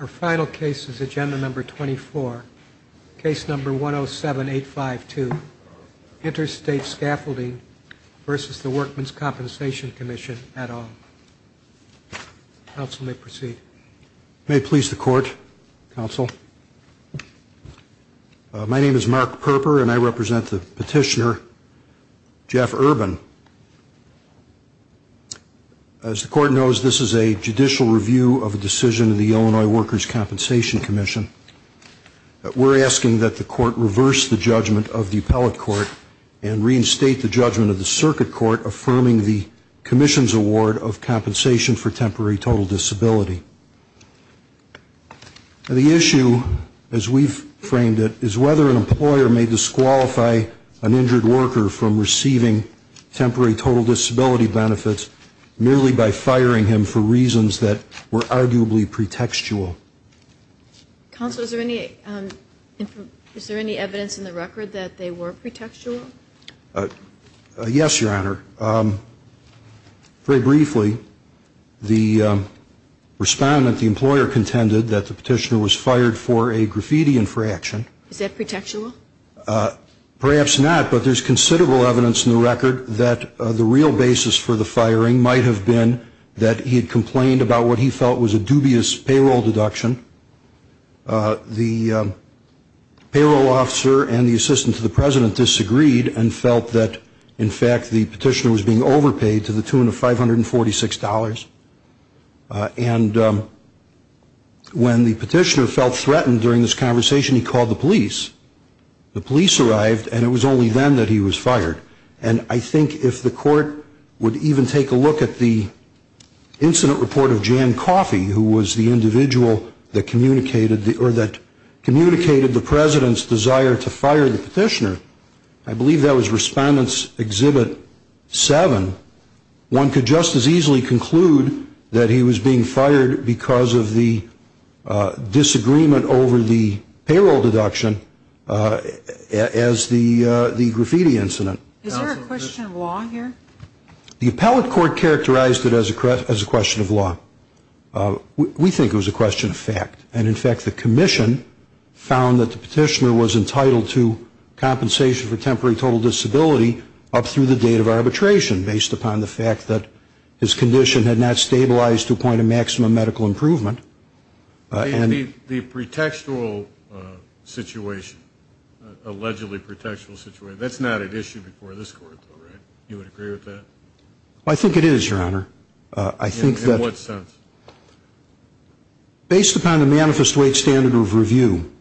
Our final case is Agenda No. 24, Case No. 107852, Interstate Scaffolding v. the Workmen's Compensation Commission, et al. Counsel may proceed. May it please the Court, Counsel. My name is Mark Perper, and I represent the petitioner, Jeff Urban. As the Court knows, this is a judicial review of a decision in the Illinois Workers' Compensation Commission. We're asking that the Court reverse the judgment of the appellate court and reinstate the judgment of the circuit court affirming the commission's award of compensation for temporary total disability. The issue, as we've framed it, is whether an employer may disqualify an injured worker from receiving temporary total disability benefits merely by firing him for reasons that were arguably pretextual. Counsel, is there any evidence in the record that they were pretextual? Yes, Your Honor. Very briefly, the respondent, the employer, contended that the petitioner was fired for a graffiti infraction. Is that pretextual? Perhaps not, but there's considerable evidence in the record that the real basis for the firing might have been that he had complained about what he felt was a dubious payroll deduction. The payroll officer and the assistant to the president disagreed and felt that, in fact, the petitioner was being overpaid to the tune of $546. And when the petitioner felt threatened during this conversation, he called the police. The police arrived, and it was only then that he was fired. And I think if the court would even take a look at the incident report of Jan Coffey, who was the individual that communicated the president's desire to fire the petitioner, I believe that was Respondent's Exhibit 7, one could just as easily conclude that he was being fired because of the disagreement over the payroll deduction as the graffiti incident. Is there a question of law here? The appellate court characterized it as a question of law. We think it was a question of fact. And, in fact, the commission found that the petitioner was entitled to compensation for temporary total disability up through the date of arbitration, based upon the fact that his condition had not stabilized to a point of maximum medical improvement. The pretextual situation, allegedly pretextual situation, that's not an issue before this court, right? You would agree with that? I think it is, Your Honor. In what sense? Based upon the manifest weight standard of review,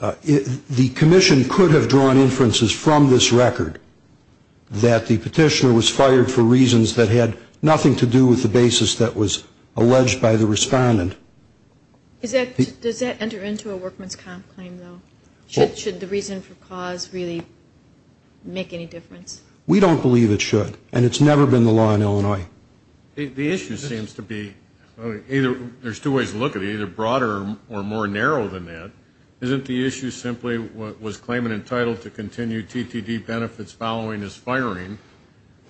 the commission could have drawn inferences from this record that the petitioner was fired for reasons that had nothing to do with the basis that was alleged by the respondent. Does that enter into a workman's comp claim, though? Should the reason for cause really make any difference? We don't believe it should, and it's never been the law in Illinois. The issue seems to be either there's two ways to look at it, either broader or more narrow than that. Isn't the issue simply what was claimant entitled to continue TTD benefits following his firing,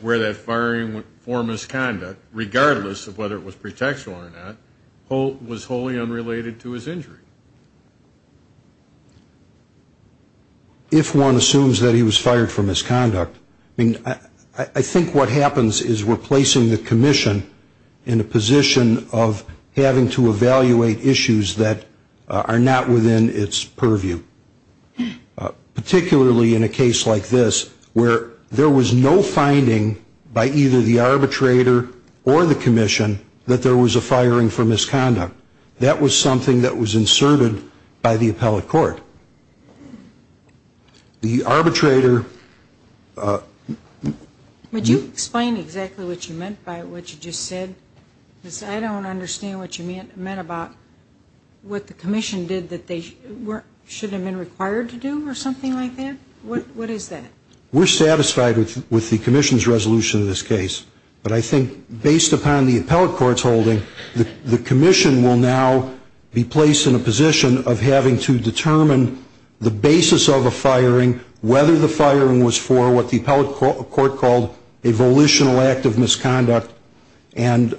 where that firing for misconduct, regardless of whether it was pretextual or not, was wholly unrelated to his injury? If one assumes that he was fired for misconduct, I mean, I think what happens is we're placing the commission in a position of having to evaluate issues that are not within its purview, particularly in a case like this, where there was no finding by either the arbitrator or the commission that there was a firing for misconduct. That was something that was inserted by the appellate court. The arbitrator ---- Would you explain exactly what you meant by what you just said? Because I don't understand what you meant about what the commission did that they should have been required to do or something like that. What is that? We're satisfied with the commission's resolution of this case, but I think based upon the appellate court's holding, the commission will now be placed in a position of having to determine the basis of a firing, whether the firing was for what the appellate court called a volitional act of misconduct, and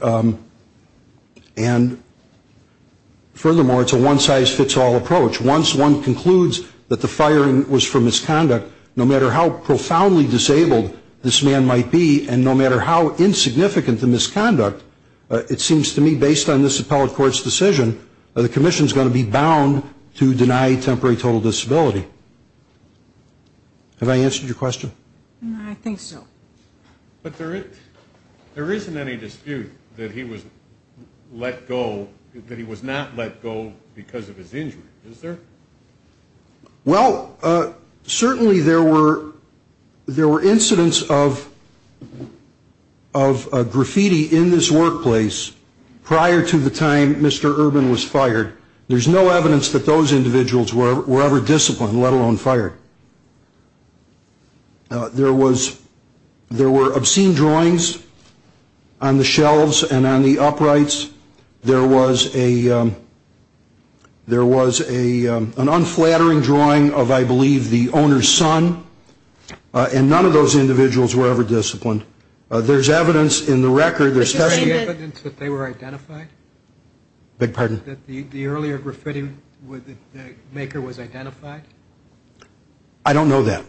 furthermore, it's a one-size-fits-all approach. Once one concludes that the firing was for misconduct, no matter how profoundly disabled this man might be and no matter how insignificant the misconduct, it seems to me based on this appellate court's decision, the commission is going to be bound to deny temporary total disability. Have I answered your question? I think so. But there isn't any dispute that he was let go, that he was not let go because of his injury, is there? Well, certainly there were incidents of graffiti in this workplace prior to the time Mr. Urban was fired. There's no evidence that those individuals were ever disciplined, let alone fired. There were obscene drawings on the shelves and on the uprights. There was an unflattering drawing of, I believe, the owner's son, and none of those individuals were ever disciplined. There's evidence in the record that they were identified. The earlier graffiti maker was identified? I don't know that,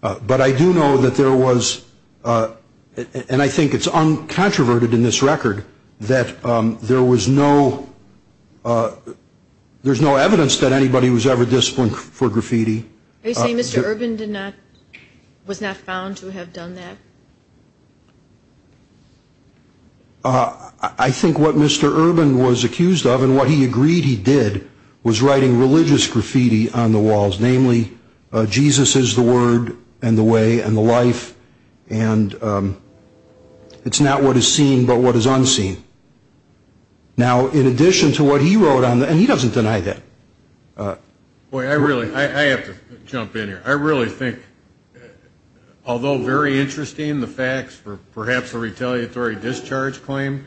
but I do know that there was, and I think it's uncontroverted in this record, that there was no evidence that anybody was ever disciplined for graffiti. Are you saying Mr. Urban was not found to have done that? I think what Mr. Urban was accused of and what he agreed he did was writing religious graffiti on the walls, namely, Jesus is the word and the way and the life, and it's not what is seen but what is unseen. Now, in addition to what he wrote on that, and he doesn't deny that. Boy, I really have to jump in here. I really think, although very interesting, the facts for perhaps a retaliatory discharge claim,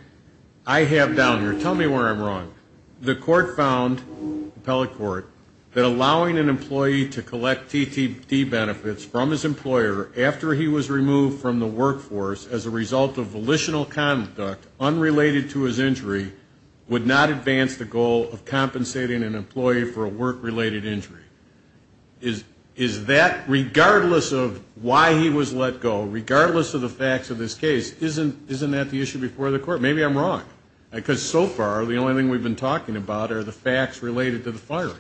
I have down here. Tell me where I'm wrong. The court found, the appellate court, that allowing an employee to collect TTD benefits from his employer after he was removed from the workforce as a result of volitional conduct unrelated to his injury would not advance the goal of compensating an employee for a work-related injury. Is that, regardless of why he was let go, regardless of the facts of this case, isn't that the issue before the court? Maybe I'm wrong because so far the only thing we've been talking about are the facts related to the firing.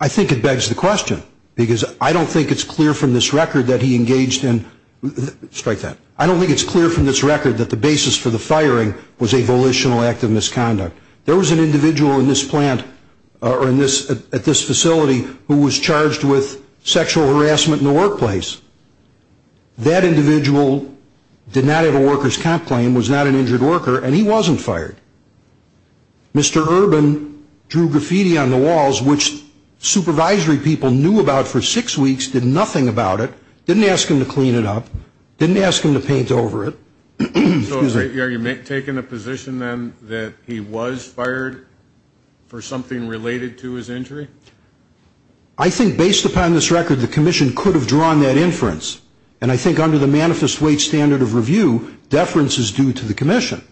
I think it begs the question because I don't think it's clear from this record that he engaged in, strike that, I don't think it's clear from this record that the basis for the firing was a volitional act of misconduct. There was an individual in this plant or at this facility who was charged with sexual harassment in the workplace. That individual did not have a worker's comp claim, was not an injured worker, and he wasn't fired. Mr. Urban drew graffiti on the walls, which supervisory people knew about for six weeks, did nothing about it, didn't ask him to clean it up, didn't ask him to paint over it. So are you taking a position then that he was fired for something related to his injury? I think based upon this record, the commission could have drawn that inference, and I think under the manifest weight standard of review, deference is due to the commission.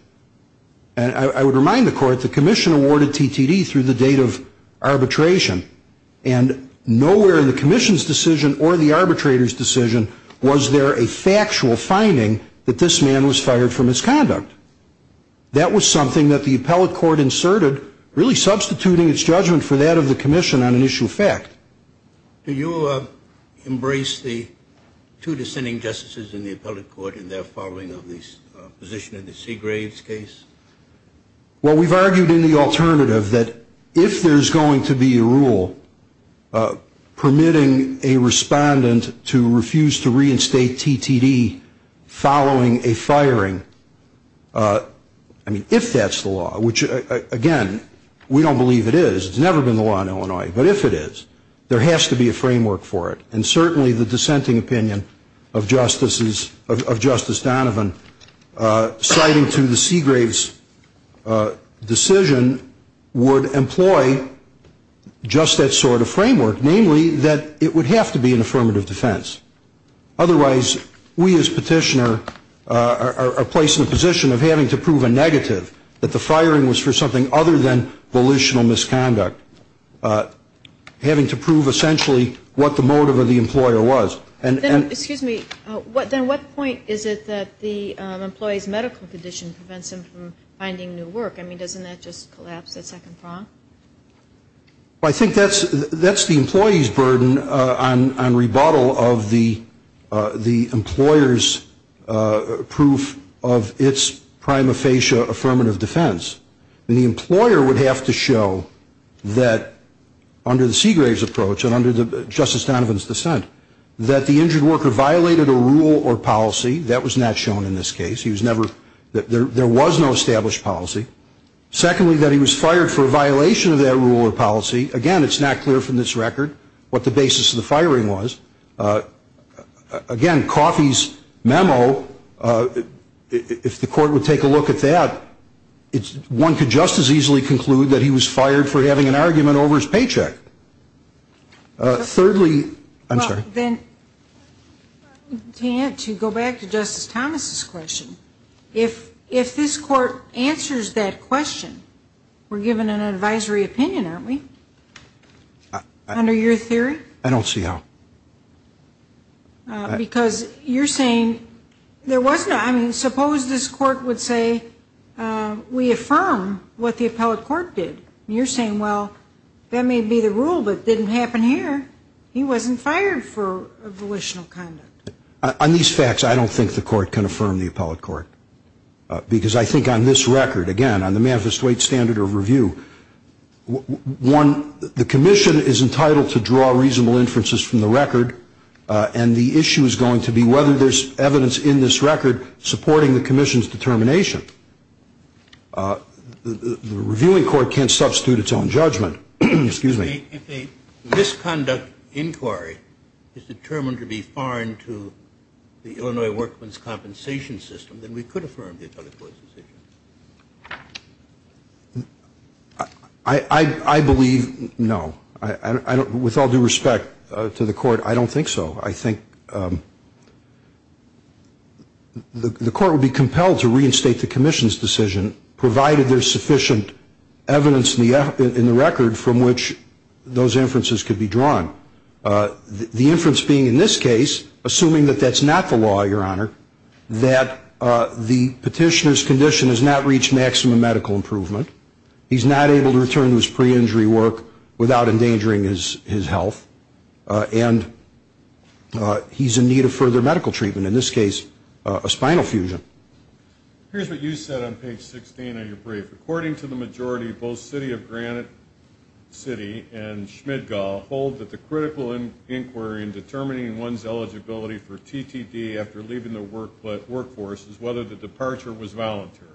And I would remind the court the commission awarded TTD through the date of arbitration, and nowhere in the commission's decision or the arbitrator's decision was there a factual finding that this man was fired for misconduct. That was something that the appellate court inserted, really substituting its judgment for that of the commission on an issue of fact. Do you embrace the two dissenting justices in the appellate court in their following of the position in the Seagraves case? Well, we've argued in the alternative that if there's going to be a rule permitting a respondent to refuse to reinstate TTD following a firing, I mean, if that's the law, which, again, we don't believe it is. It's never been the law in Illinois. But if it is, there has to be a framework for it. And certainly the dissenting opinion of Justice Donovan citing to the Seagraves decision would employ just that sort of framework, namely that it would have to be an affirmative defense. Otherwise, we as petitioner are placed in a position of having to prove a negative, that the firing was for something other than volitional misconduct, having to prove essentially what the motive of the employer was. Excuse me. Then what point is it that the employee's medical condition prevents him from finding new work? I mean, doesn't that just collapse that second prong? Well, I think that's the employee's burden on rebuttal of the employer's proof of its prima facie affirmative defense. The employer would have to show that under the Seagraves approach and under Justice Donovan's dissent, that the injured worker violated a rule or policy. That was not shown in this case. There was no established policy. Secondly, that he was fired for a violation of that rule or policy. Again, it's not clear from this record what the basis of the firing was. Again, Coffey's memo, if the court would take a look at that, one could just as easily conclude that he was fired for having an argument over his paycheck. Thirdly, I'm sorry. Then to go back to Justice Thomas's question, if this court answers that question, we're given an advisory opinion, aren't we, under your theory? I don't see how. Because you're saying there was no ‑‑ I mean, suppose this court would say we affirm what the appellate court did. You're saying, well, that may be the rule, but it didn't happen here. He wasn't fired for volitional conduct. On these facts, I don't think the court can affirm the appellate court. Because I think on this record, again, on the manifest weight standard of review, one, the commission is entitled to draw reasonable inferences from the record, and the issue is going to be whether there's evidence in this record supporting the commission's determination. The reviewing court can't substitute its own judgment. If a misconduct inquiry is determined to be foreign to the Illinois workman's compensation system, then we could affirm the appellate court's decision. I believe no. With all due respect to the court, I don't think so. I think the court would be compelled to reinstate the commission's decision, provided there's sufficient evidence in the record from which those inferences could be drawn. The inference being in this case, assuming that that's not the law, Your Honor, that the petitioner's condition has not reached maximum medical improvement, he's not able to return to his pre-injury work without endangering his health, and he's in need of further medical treatment, in this case a spinal fusion. Here's what you said on page 16 of your brief. According to the majority, both City of Granite City and Schmidgall hold that the critical inquiry in determining one's eligibility for TTD after leaving the workforce is whether the departure was voluntary.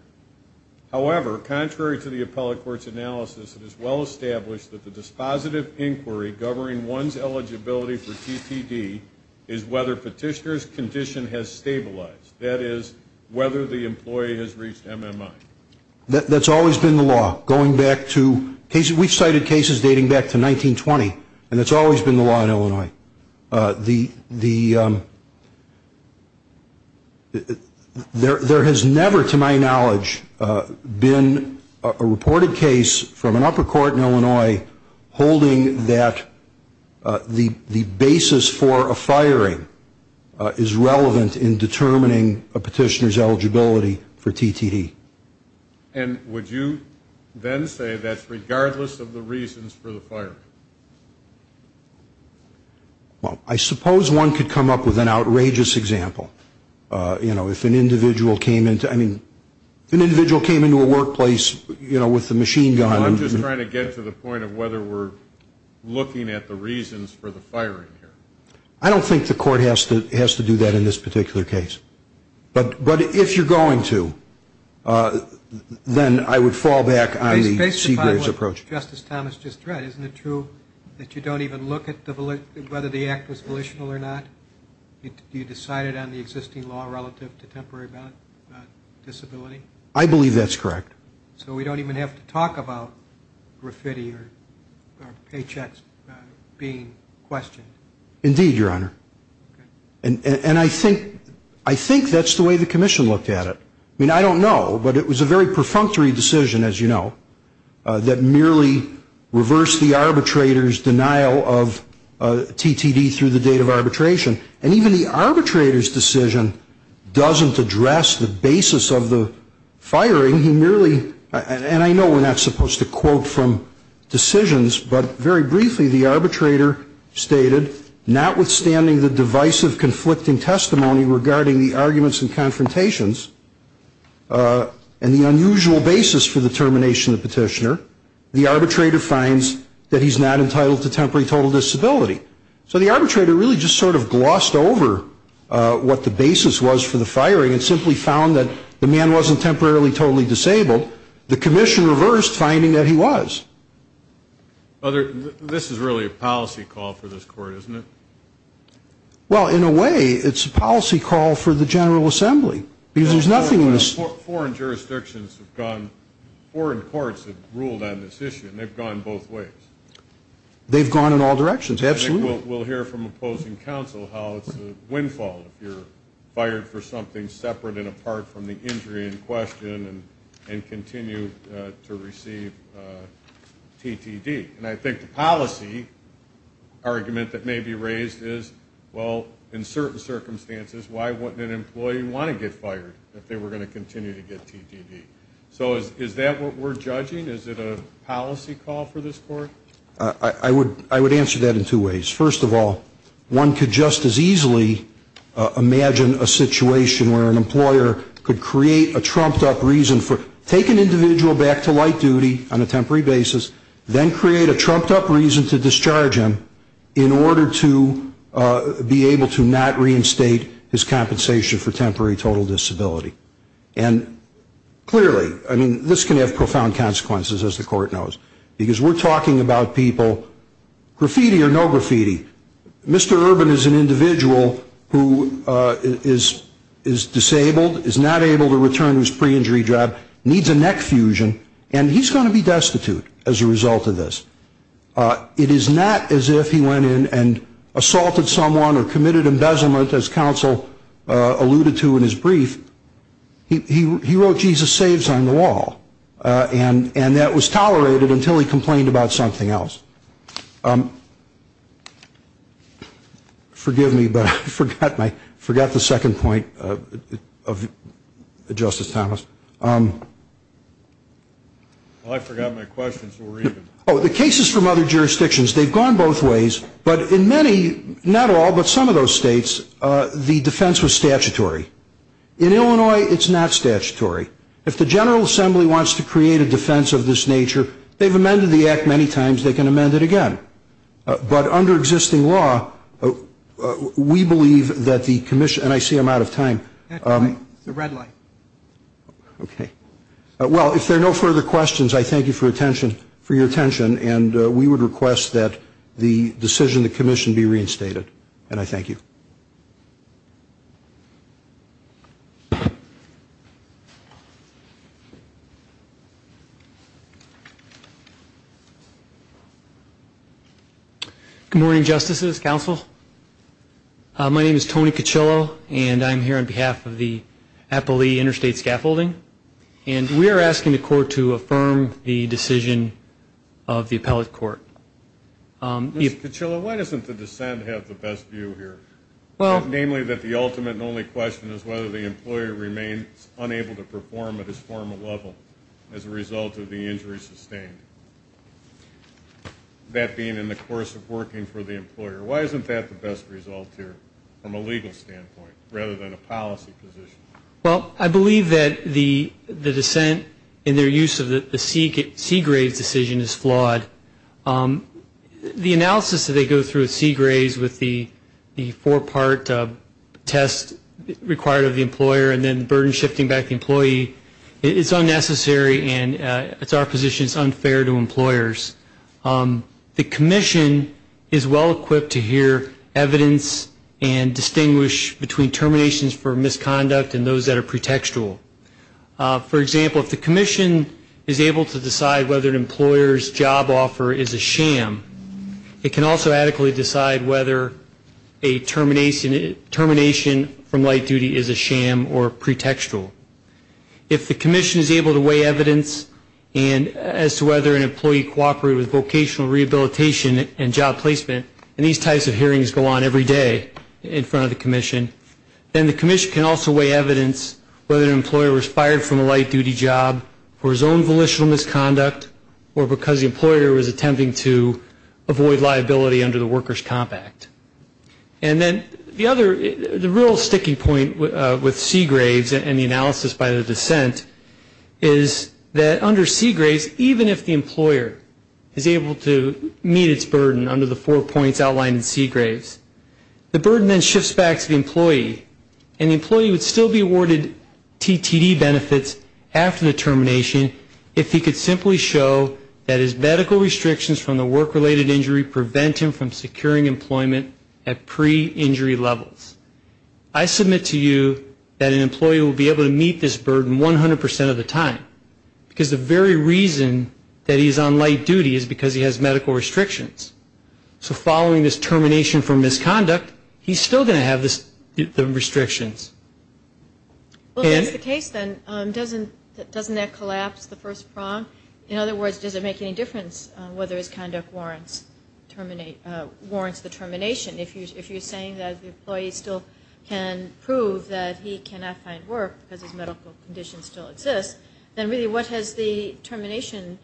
However, contrary to the appellate court's analysis, it is well established that the dispositive inquiry governing one's eligibility for TTD is whether petitioner's condition has stabilized, that is, whether the employee has reached MMI. That's always been the law, going back to cases. We've cited cases dating back to 1920, and it's always been the law in Illinois. There has never, to my knowledge, been a reported case from an upper court in Illinois holding that the basis for a firing is relevant in determining a petitioner's eligibility for TTD. And would you then say that's regardless of the reasons for the firing? Well, I suppose one could come up with an outrageous example. You know, if an individual came into a workplace, you know, with the machine gun. I'm just trying to get to the point of whether we're looking at the reasons for the firing here. I don't think the court has to do that in this particular case. But if you're going to, then I would fall back on the Seagraves approach. Based upon what Justice Thomas just read, isn't it true that you don't even look at whether the act was volitional or not? You decide it on the existing law relative to temporary disability? I believe that's correct. So we don't even have to talk about graffiti or paychecks being questioned? Indeed, Your Honor. And I think that's the way the commission looked at it. I mean, I don't know, but it was a very perfunctory decision, as you know, that merely reversed the arbitrator's denial of TTD through the date of arbitration. And even the arbitrator's decision doesn't address the basis of the firing. He merely, and I know we're not supposed to quote from decisions, but very briefly the arbitrator stated, notwithstanding the divisive conflicting testimony regarding the arguments and confrontations and the unusual basis for the termination of the petitioner, the arbitrator finds that he's not entitled to temporary total disability. So the arbitrator really just sort of glossed over what the basis was for the firing and simply found that the man wasn't temporarily totally disabled. The commission reversed, finding that he was. This is really a policy call for this court, isn't it? Well, in a way, it's a policy call for the General Assembly. Because there's nothing in this. Foreign jurisdictions have gone, foreign courts have ruled on this issue, and they've gone both ways. They've gone in all directions, absolutely. We'll hear from opposing counsel how it's a windfall if you're fired for something separate and apart from the injury in question and continue to receive TTD. And I think the policy argument that may be raised is, well, in certain circumstances, why wouldn't an employee want to get fired if they were going to continue to get TTD? So is that what we're judging? Is it a policy call for this court? I would answer that in two ways. First of all, one could just as easily imagine a situation where an employer could create a trumped-up reason for, take an individual back to light duty on a temporary basis, then create a trumped-up reason to discharge him in order to be able to not reinstate his compensation for temporary total disability. And clearly, I mean, this can have profound consequences, as the court knows, because we're talking about people, graffiti or no graffiti. Mr. Urban is an individual who is disabled, is not able to return to his pre-injury job, needs a neck fusion, and he's going to be destitute as a result of this. It is not as if he went in and assaulted someone or committed embezzlement, as counsel alluded to in his brief. He wrote Jesus saves on the wall, and that was tolerated until he complained about something else. Forgive me, but I forgot the second point of Justice Thomas. Well, I forgot my question, so we're even. Oh, the cases from other jurisdictions, they've gone both ways, but in many, not all, but some of those states, the defense was statutory. In Illinois, it's not statutory. If the General Assembly wants to create a defense of this nature, they've amended the act many times. They can amend it again. But under existing law, we believe that the commission, and I see I'm out of time. The red light. Okay. Well, if there are no further questions, I thank you for your attention, and we would request that the decision of the commission be reinstated. And I thank you. Good morning, Justices, Counsel. My name is Tony Cochillo, and I'm here on behalf of the Appali Interstate Scaffolding. And we are asking the court to affirm the decision of the appellate court. Mr. Cochillo, why doesn't the dissent have the best view here? Namely, that the ultimate and only question is whether the employer remains unable to perform at his formal level as a result of the injury sustained, that being in the course of working for the employer. Why isn't that the best result here from a legal standpoint rather than a policy position? Well, I believe that the dissent in their use of the Seagraves decision is flawed. The analysis that they go through at Seagraves with the four-part test required of the employer and then the burden shifting back to the employee is unnecessary, and it's our position it's unfair to employers. The commission is well equipped to hear evidence and distinguish between terminations for misconduct and those that are pretextual. For example, if the commission is able to decide whether an employer's job offer is a sham, it can also adequately decide whether a termination from light duty is a sham or pretextual. If the commission is able to weigh evidence as to whether an employee cooperated with vocational rehabilitation and job placement, and these types of hearings go on every day in front of the commission, then the commission can also weigh evidence whether an employer was fired from a light duty job for his own volitional misconduct or because the employer was attempting to avoid liability under the Workers' Comp Act. And then the other, the real sticky point with Seagraves and the analysis by the dissent is that under Seagraves, even if the employer is able to meet its burden under the four points outlined in Seagraves, the burden then shifts back to the employee, and the employee would still be awarded TTD benefits after the termination if he could simply show that his medical restrictions from the work-related injury prevent him from securing employment at pre-injury levels. I submit to you that an employee will be able to meet this burden 100% of the time, because the very reason that he's on light duty is because he has medical restrictions. So following this termination from misconduct, he's still going to have the restrictions. Well, if that's the case, then doesn't that collapse the first prong? In other words, does it make any difference whether his conduct warrants the termination? If you're saying that the employee still can prove that he cannot find work because his medical condition still exists, then really what has the termination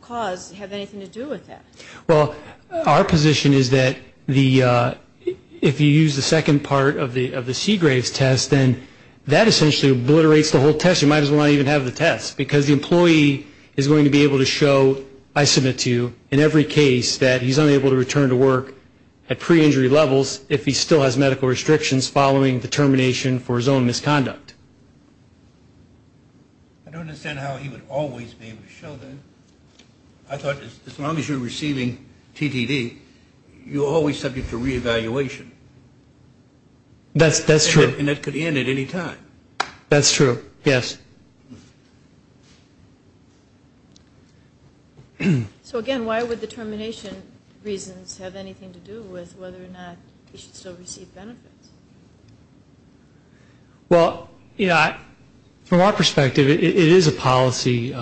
cause have anything to do with that? Well, our position is that if you use the second part of the Seagraves test, then that essentially obliterates the whole test. In other words, you might as well not even have the test, because the employee is going to be able to show, I submit to you, in every case that he's unable to return to work at pre-injury levels if he still has medical restrictions following the termination for his own misconduct. I don't understand how he would always be able to show that. I thought as long as you're receiving TTD, you're always subject to reevaluation. That's true. And that could end at any time. That's true, yes. So again, why would the termination reasons have anything to do with whether or not he should still receive benefits? Well, from our perspective, it is a policy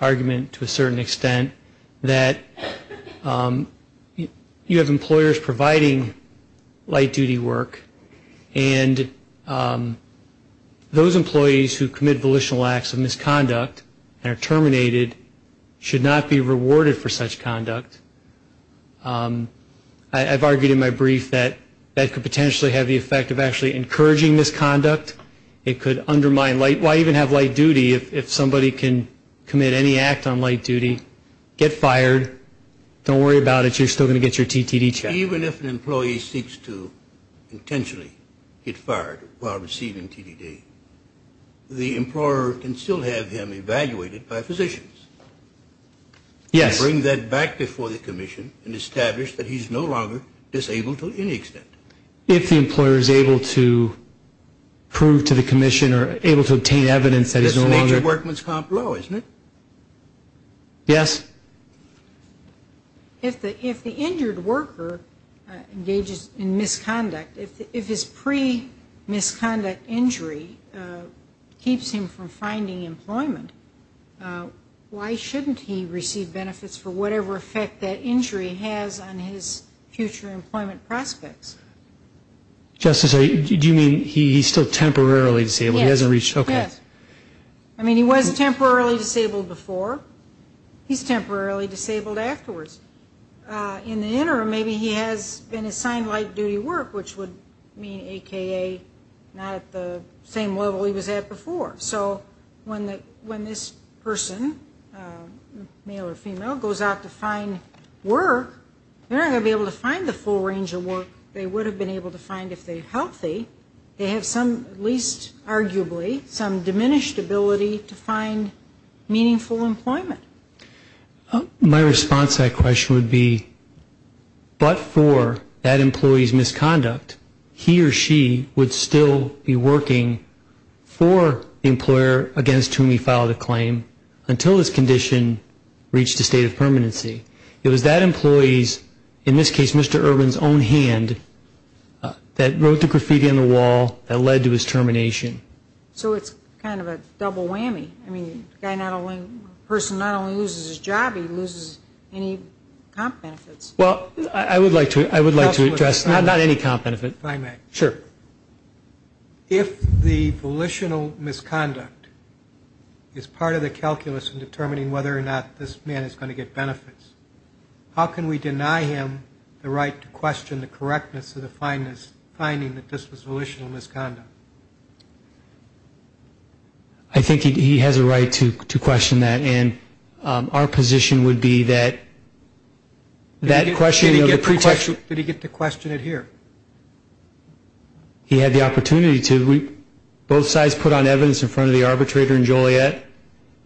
argument to a certain extent that you have employers providing light-duty work, and those employees who commit volitional acts of misconduct and are terminated should not be rewarded for such conduct. I've argued in my brief that that could potentially have the effect of actually encouraging misconduct. It could undermine light-duty. Why even have light-duty if somebody can commit any act on light-duty, get fired, don't worry about it, you're still going to get your TTD checked. Even if an employee seeks to intentionally get fired while receiving TTD, the employer can still have him evaluated by physicians. Yes. And bring that back before the commission and establish that he's no longer disabled to any extent. If the employer is able to prove to the commission or able to obtain evidence that he's no longer. That's the nature of workman's comp law, isn't it? Yes. If the injured worker engages in misconduct, if his pre-misconduct injury keeps him from finding employment, why shouldn't he receive benefits for whatever effect that injury has on his future employment prospects? Justice, do you mean he's still temporarily disabled? Yes. Okay. I mean, he was temporarily disabled before. He's temporarily disabled afterwards. In the interim, maybe he has been assigned light-duty work, which would mean, a.k.a. not at the same level he was at before. So when this person, male or female, goes out to find work, they're not going to be able to find the full range of work they would have been able to find if they were healthy. They have some, at least arguably, some diminished ability to find meaningful employment. My response to that question would be, but for that employee's misconduct, he or she would still be working for the employer against whom he filed a claim until his condition reached a state of permanency. It was that employee's, in this case Mr. Urban's, own hand that wrote the graffiti on the wall that led to his termination. So it's kind of a double whammy. I mean, the person not only loses his job, he loses any comp benefits. Well, I would like to address not any comp benefit. If I may. Sure. If the volitional misconduct is part of the calculus in determining whether or not this man is going to get benefits, how can we deny him the right to question the correctness of the finding that this was volitional misconduct? I think he has a right to question that. And our position would be that that question of the protection. Did he get to question it here? He had the opportunity to. Both sides put on evidence in front of the arbitrator and Joliet.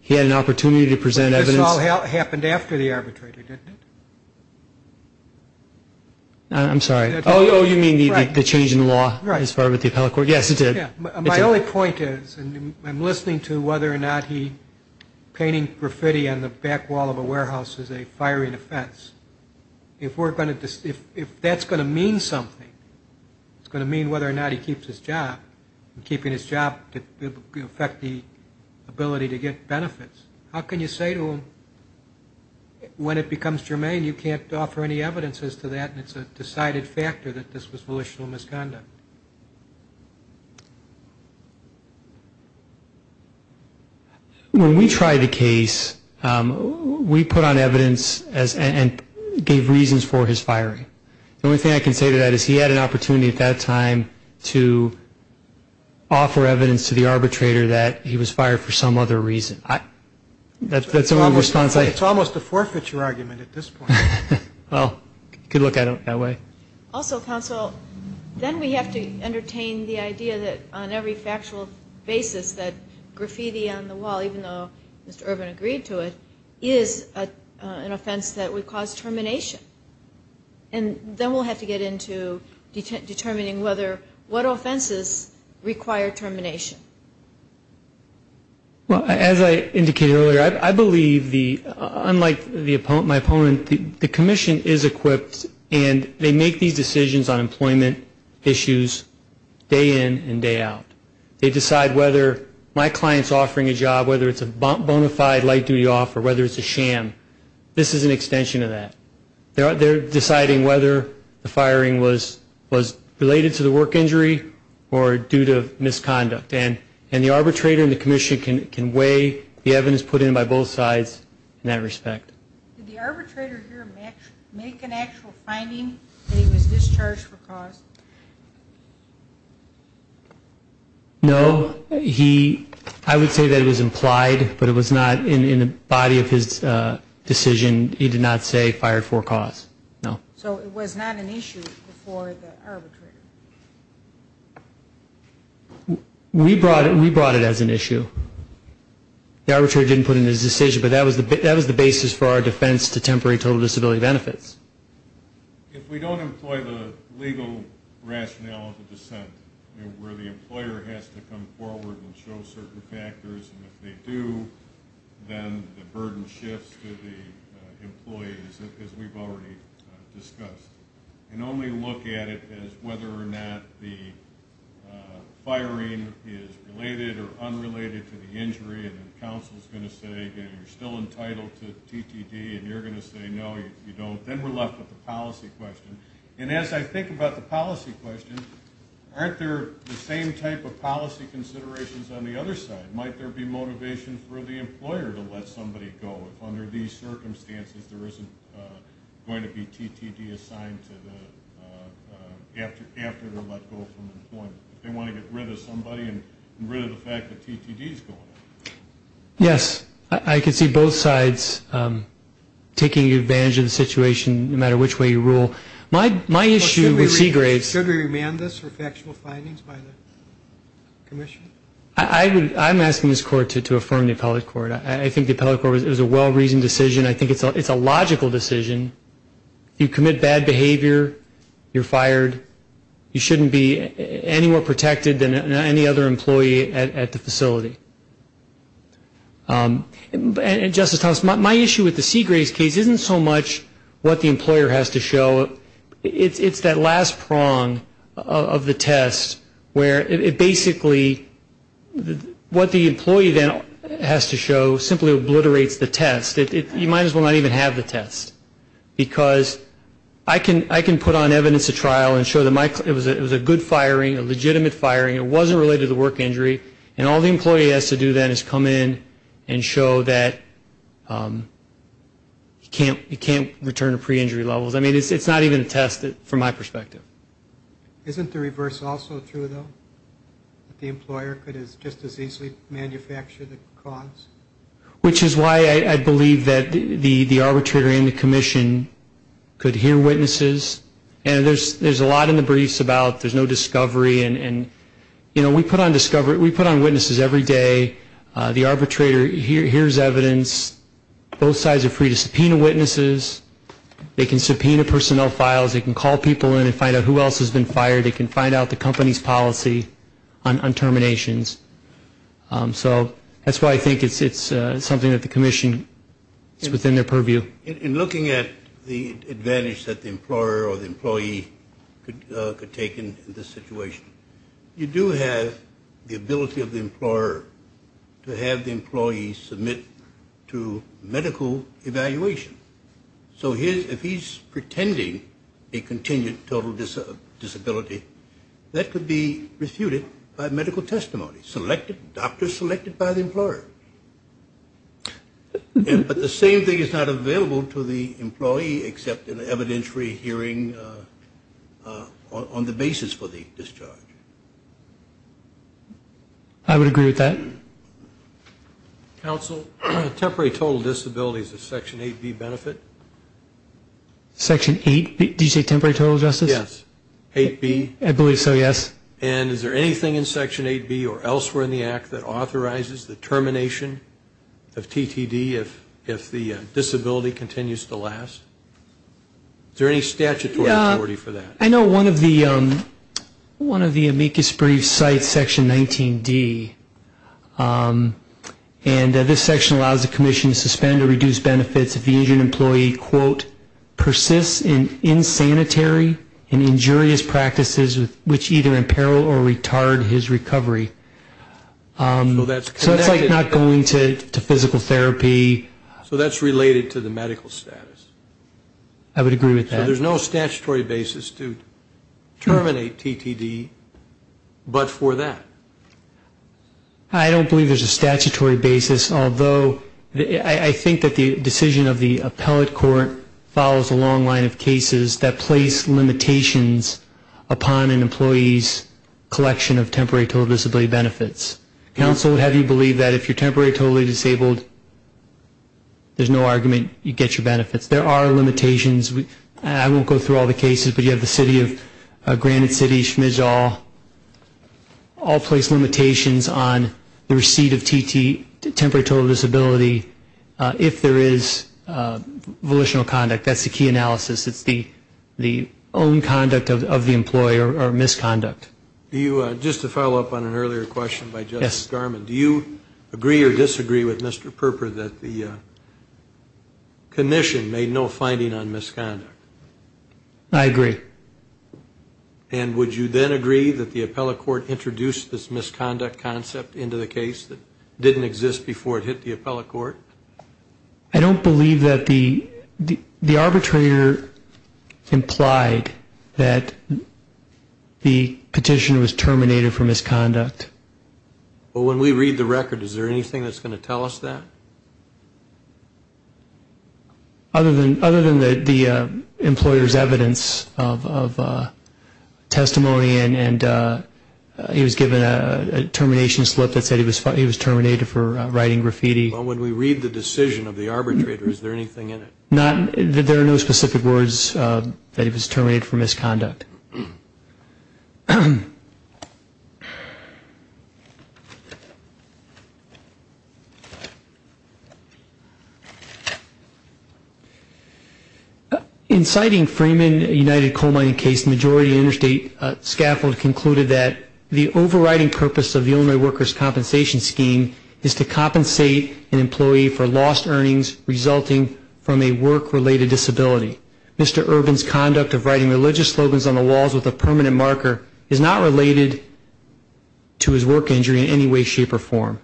He had an opportunity to present evidence. But this all happened after the arbitrator, didn't it? I'm sorry. Oh, you mean the change in the law as far as the appellate court. Yes, it did. My only point is, and I'm listening to whether or not he painting graffiti on the back wall of a warehouse is a firing offense. If that's going to mean something, it's going to mean whether or not he keeps his job, keeping his job to affect the ability to get benefits, how can you say to him when it becomes germane you can't offer any evidence as to that and it's a decided factor that this was volitional misconduct? When we tried the case, we put on evidence and gave reasons for his firing. The only thing I can say to that is he had an opportunity at that time to offer evidence to the arbitrator that he was fired for some other reason. That's the only response I have. It's almost a forfeiture argument at this point. Well, you could look at it that way. Also, counsel, then we have to entertain the idea that on every factual basis that graffiti on the wall, even though Mr. Ervin agreed to it, is an offense that would cause termination. And then we'll have to get into determining what offenses require termination. Well, as I indicated earlier, I believe, unlike my opponent, the commission is equipped and they make these decisions on employment issues day in and day out. They decide whether my client is offering a job, whether it's a bona fide light duty offer, whether it's a sham, this is an extension of that. They're deciding whether the firing was related to the work injury or due to misconduct. And the arbitrator and the commission can weigh the evidence put in by both sides in that respect. Did the arbitrator here make an actual finding that he was discharged for cause? No. I would say that it was implied, but it was not in the body of his decision. He did not say fired for cause. No. So it was not an issue before the arbitrator? We brought it as an issue. The arbitrator didn't put it in his decision, but that was the basis for our defense to temporary total disability benefits. If we don't employ the legal rationale of the dissent, where the employer has to come forward and show certain factors, and if they do, then the burden shifts to the employees, as we've already discussed. And only look at it as whether or not the firing is related or unrelated to the injury, and then counsel is going to say, you're still entitled to TTD, and you're going to say no, you don't. Then we're left with the policy question. And as I think about the policy question, aren't there the same type of policy considerations on the other side? Might there be motivation for the employer to let somebody go if under these circumstances there isn't going to be TTD assigned after the let go from employment? They want to get rid of somebody and rid of the fact that TTD is going on. Yes. I can see both sides taking advantage of the situation, no matter which way you rule. My issue with Seagraves – Should we remand this for factual findings by the commission? I'm asking this court to affirm the appellate court. I think the appellate court was a well-reasoned decision. I think it's a logical decision. You commit bad behavior, you're fired, you shouldn't be any more protected than any other employee at the facility. Justice Thomas, my issue with the Seagraves case isn't so much what the employer has to show. It's that last prong of the test where it basically – what the employee then has to show simply obliterates the test. You might as well not even have the test, because I can put on evidence at trial and show that it was a good firing, a legitimate firing, it wasn't related to the work injury, and all the employee has to do then is come in and show that you can't return to pre-injury levels. I mean, it's not even a test from my perspective. Isn't the reverse also true, though? The employer could just as easily manufacture the cause? Which is why I believe that the arbitrator and the commission could hear witnesses, and there's a lot in the briefs about there's no discovery. We put on witnesses every day. The arbitrator hears evidence. Both sides are free to subpoena witnesses. They can subpoena personnel files. They can call people in and find out who else has been fired. They can find out the company's policy on terminations. So that's why I think it's something that the commission is within their purview. In looking at the advantage that the employer or the employee could take in this situation, you do have the ability of the employer to have the employee submit to medical evaluation. So if he's pretending a continued total disability, that could be refuted by medical testimony, But the same thing is not available to the employee, except in an evidentiary hearing on the basis for the discharge. I would agree with that. Counsel, temporary total disability is a Section 8B benefit. Section 8B? Did you say temporary total, Justice? Yes. 8B? I believe so, yes. And is there anything in Section 8B or elsewhere in the Act that authorizes the termination of TTD if the disability continues to last? Is there any statutory authority for that? I know one of the amicus briefs cites Section 19D, and this section allows the commission to suspend or reduce benefits if the injured employee, quote, his recovery. So that's connected. So it's like not going to physical therapy. So that's related to the medical status. I would agree with that. So there's no statutory basis to terminate TTD but for that? I don't believe there's a statutory basis, although I think that the decision of the appellate court follows a long line of cases that place limitations upon an employee's collection of temporary total disability benefits. Counsel would have you believe that if you're temporary totally disabled, there's no argument you get your benefits. There are limitations. I won't go through all the cases, but you have the city of Granite City, Schmidall, all place limitations on the receipt of temporary total disability if there is volitional conduct. That's the key analysis. It's the own conduct of the employer or misconduct. Just to follow up on an earlier question by Justice Garmon, do you agree or disagree with Mr. Perper that the commission made no finding on misconduct? I agree. And would you then agree that the appellate court introduced this misconduct concept into the case that didn't exist before it hit the appellate court? I don't believe that the arbitrator implied that the petition was terminated for misconduct. Well, when we read the record, is there anything that's going to tell us that? Other than the employer's evidence of testimony and he was given a termination slip that said he was terminated for writing graffiti. Well, when we read the decision of the arbitrator, is there anything in it? There are no specific words that he was terminated for misconduct. In citing Freeman United Coal Mining case, the majority of the interstate scaffold concluded that the overriding purpose of the Illinois workers' compensation scheme is to compensate an employee for lost earnings resulting from a work-related disability. Mr. Urban's conduct of writing religious slogans on the walls with a permanent marker is not related to his work injury in any way, shape, or form.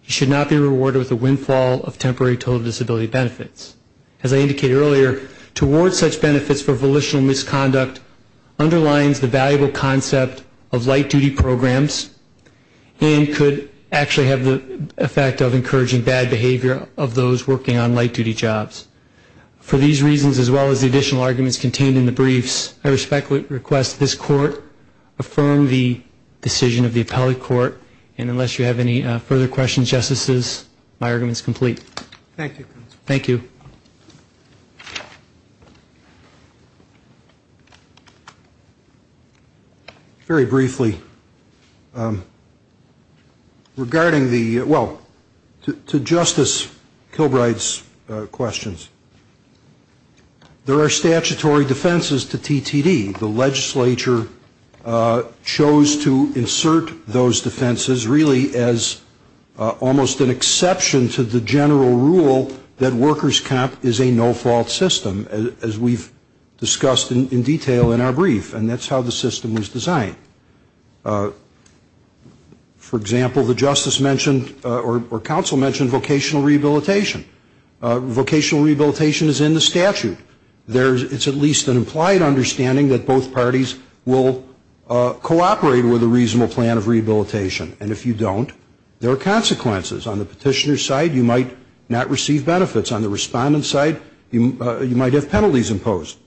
He should not be rewarded with a windfall of temporary total disability benefits. As I indicated earlier, to award such benefits for volitional misconduct underlines the valuable concept of light-duty programs and could actually have the effect of encouraging bad behavior of those working on light-duty jobs. For these reasons, as well as the additional arguments contained in the briefs, I respectfully request this court affirm the decision of the appellate court. And unless you have any further questions, Justices, my argument is complete. Thank you. Thank you. Very briefly, regarding the, well, to Justice Kilbride's questions, there are statutory defenses to TTD. The legislature chose to insert those defenses really as almost an exception to the general rule that workers' comp is a no-fault system, as we've discussed in detail in our brief. And that's how the system was designed. For example, the Justice mentioned or counsel mentioned vocational rehabilitation. Vocational rehabilitation is in the statute. It's at least an implied understanding that both parties will cooperate with a reasonable plan of rehabilitation. And if you don't, there are consequences. On the petitioner's side, you might not receive benefits. On the respondent's side, you might have penalties imposed.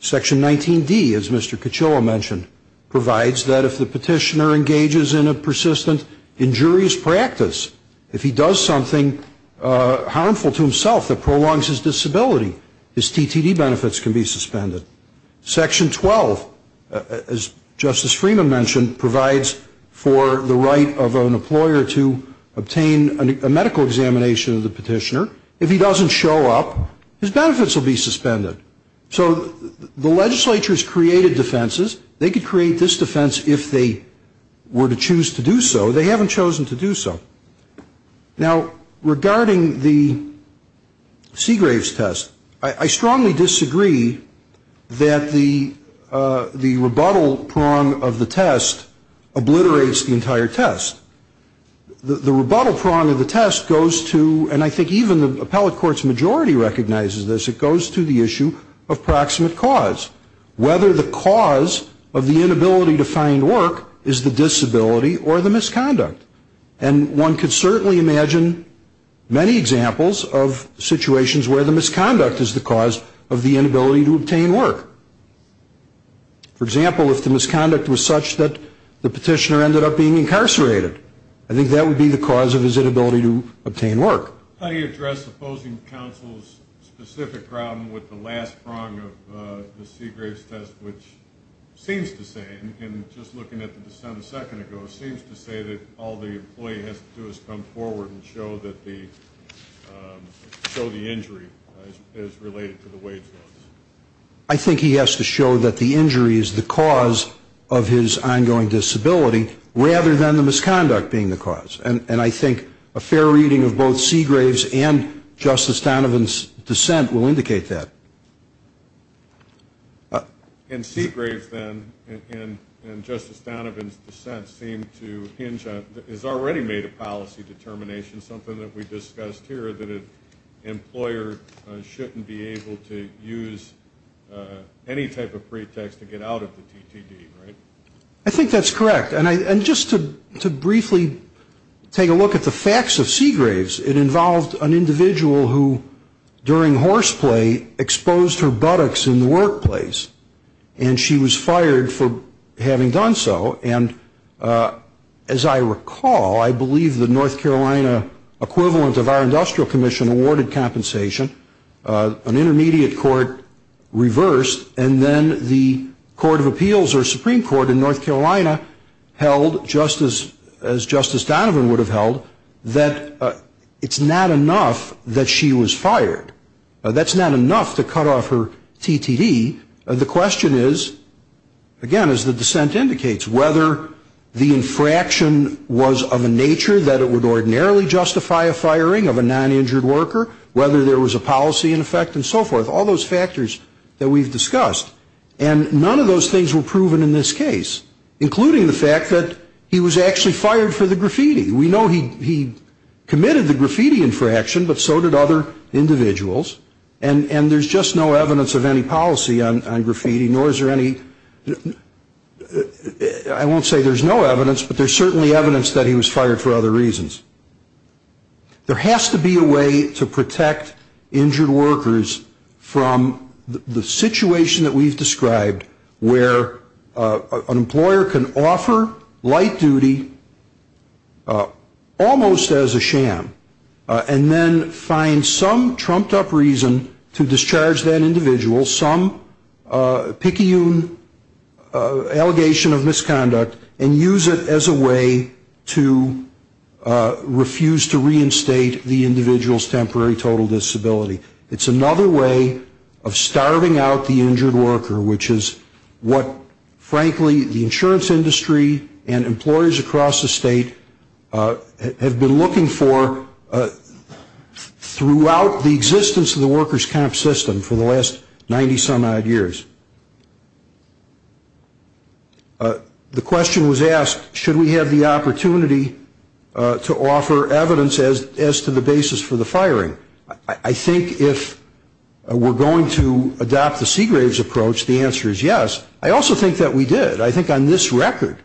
Section 19D, as Mr. Caciola mentioned, provides that if the petitioner engages in a persistent injurious practice, if he does something harmful to himself that prolongs his disability, his TTD benefits can be suspended. Section 12, as Justice Freeman mentioned, provides for the right of an employer to obtain a medical examination of the petitioner. If he doesn't show up, his benefits will be suspended. So the legislature has created defenses. They could create this defense if they were to choose to do so. They haven't chosen to do so. Now, regarding the Segrave's test, I strongly disagree that the rebuttal prong of the test obliterates the entire test. The rebuttal prong of the test goes to, and I think even the appellate court's majority recognizes this, it goes to the issue of proximate cause, whether the cause of the inability to find work is the disability or the misconduct. And one could certainly imagine many examples of situations where the misconduct is the cause of the inability to obtain work. For example, if the misconduct was such that the petitioner ended up being incarcerated, I think that would be the cause of his inability to obtain work. How do you address opposing counsel's specific problem with the last prong of the Segrave's test, which seems to say, and just looking at the dissent a second ago, seems to say that all the employee has to do is come forward and show the injury is related to the wage loss. I think he has to show that the injury is the cause of his ongoing disability rather than the misconduct being the cause. And I think a fair reading of both Segrave's and Justice Donovan's dissent will indicate that. And Segrave's, then, and Justice Donovan's dissent seem to hinge on, has already made a policy determination, something that we discussed here, that an employer shouldn't be able to use any type of pretext to get out of the TTD, right? I think that's correct. And just to briefly take a look at the facts of Segrave's, it involved an individual who, during horseplay, exposed her buttocks in the workplace, and she was fired for having done so. And as I recall, I believe the North Carolina equivalent of our industrial commission awarded compensation. An intermediate court reversed, and then the Court of Appeals or Supreme Court in North Carolina held, just as Justice Donovan would have held, that it's not enough that she was fired. That's not enough to cut off her TTD. The question is, again, as the dissent indicates, whether the infraction was of a nature that it would ordinarily justify a firing of a non-injured worker, whether there was a policy in effect and so forth, all those factors that we've discussed. And none of those things were proven in this case, including the fact that he was actually fired for the graffiti. We know he committed the graffiti infraction, but so did other individuals. And there's just no evidence of any policy on graffiti, nor is there any ‑‑ I won't say there's no evidence, but there's certainly evidence that he was fired for other reasons. There has to be a way to protect injured workers from the situation that we've described, where an employer can offer light duty almost as a sham, and then find some trumped up reason to discharge that individual, some picayune allegation of misconduct, and use it as a way to refuse to reinstate the individual's temporary total disability. It's another way of starving out the injured worker, which is what, frankly, the insurance industry and employers across the state have been looking for throughout the existence of the workers' comp system for the last 90‑some odd years. The question was asked, should we have the opportunity to offer evidence as to the basis for the firing? I think if we're going to adopt the Seagraves approach, the answer is yes. I also think that we did. I think on this record,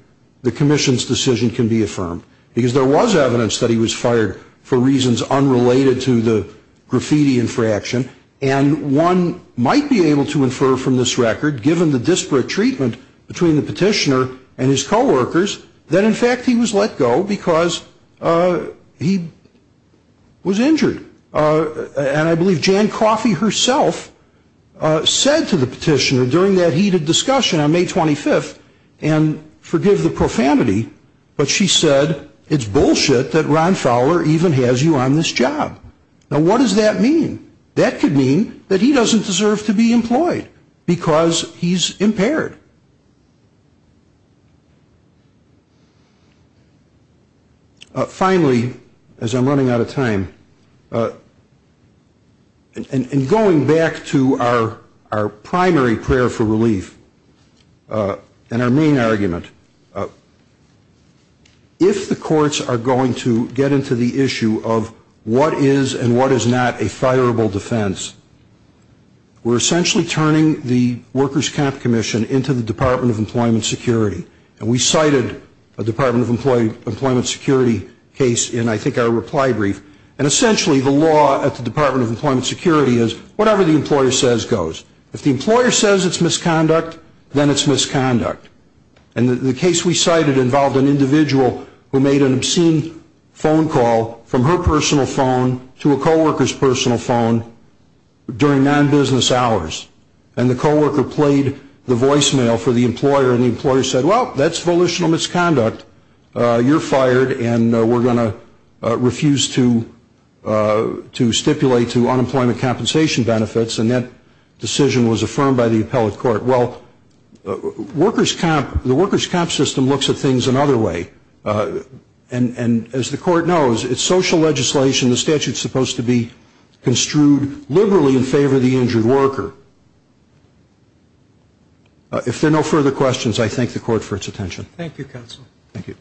the commission's decision can be affirmed, because there was evidence that he was fired for reasons unrelated to the graffiti infraction, and one might be able to infer from this record, given the disparate treatment between the petitioner and his coworkers, that, in fact, he was let go because he was injured. And I believe Jan Coffey herself said to the petitioner during that heated discussion on May 25th, and forgive the profanity, but she said, it's bullshit that Ron Fowler even has you on this job. Now, what does that mean? That could mean that he doesn't deserve to be employed, because he's impaired. Finally, as I'm running out of time, in going back to our primary prayer for relief, and our main argument, if the courts are going to get into the issue of what is and what is not a fireable defense, we're essentially turning the Workers' Comp Commission into the Department of Employment Security. And we cited a Department of Employment Security case in, I think, our reply brief. And essentially, the law at the Department of Employment Security is whatever the employer says goes. If the employer says it's misconduct, then it's misconduct. And the case we cited involved an individual who made an obscene phone call from her personal phone to a co-worker's personal phone during non-business hours. And the co-worker played the voicemail for the employer, and the employer said, well, that's volitional misconduct. You're fired, and we're going to refuse to stipulate to unemployment compensation benefits. And that decision was affirmed by the appellate court. Well, the Workers' Comp system looks at things another way. And as the court knows, it's social legislation. The statute is supposed to be construed liberally in favor of the injured worker. If there are no further questions, I thank the court for its attention. Thank you, counsel. Thank you.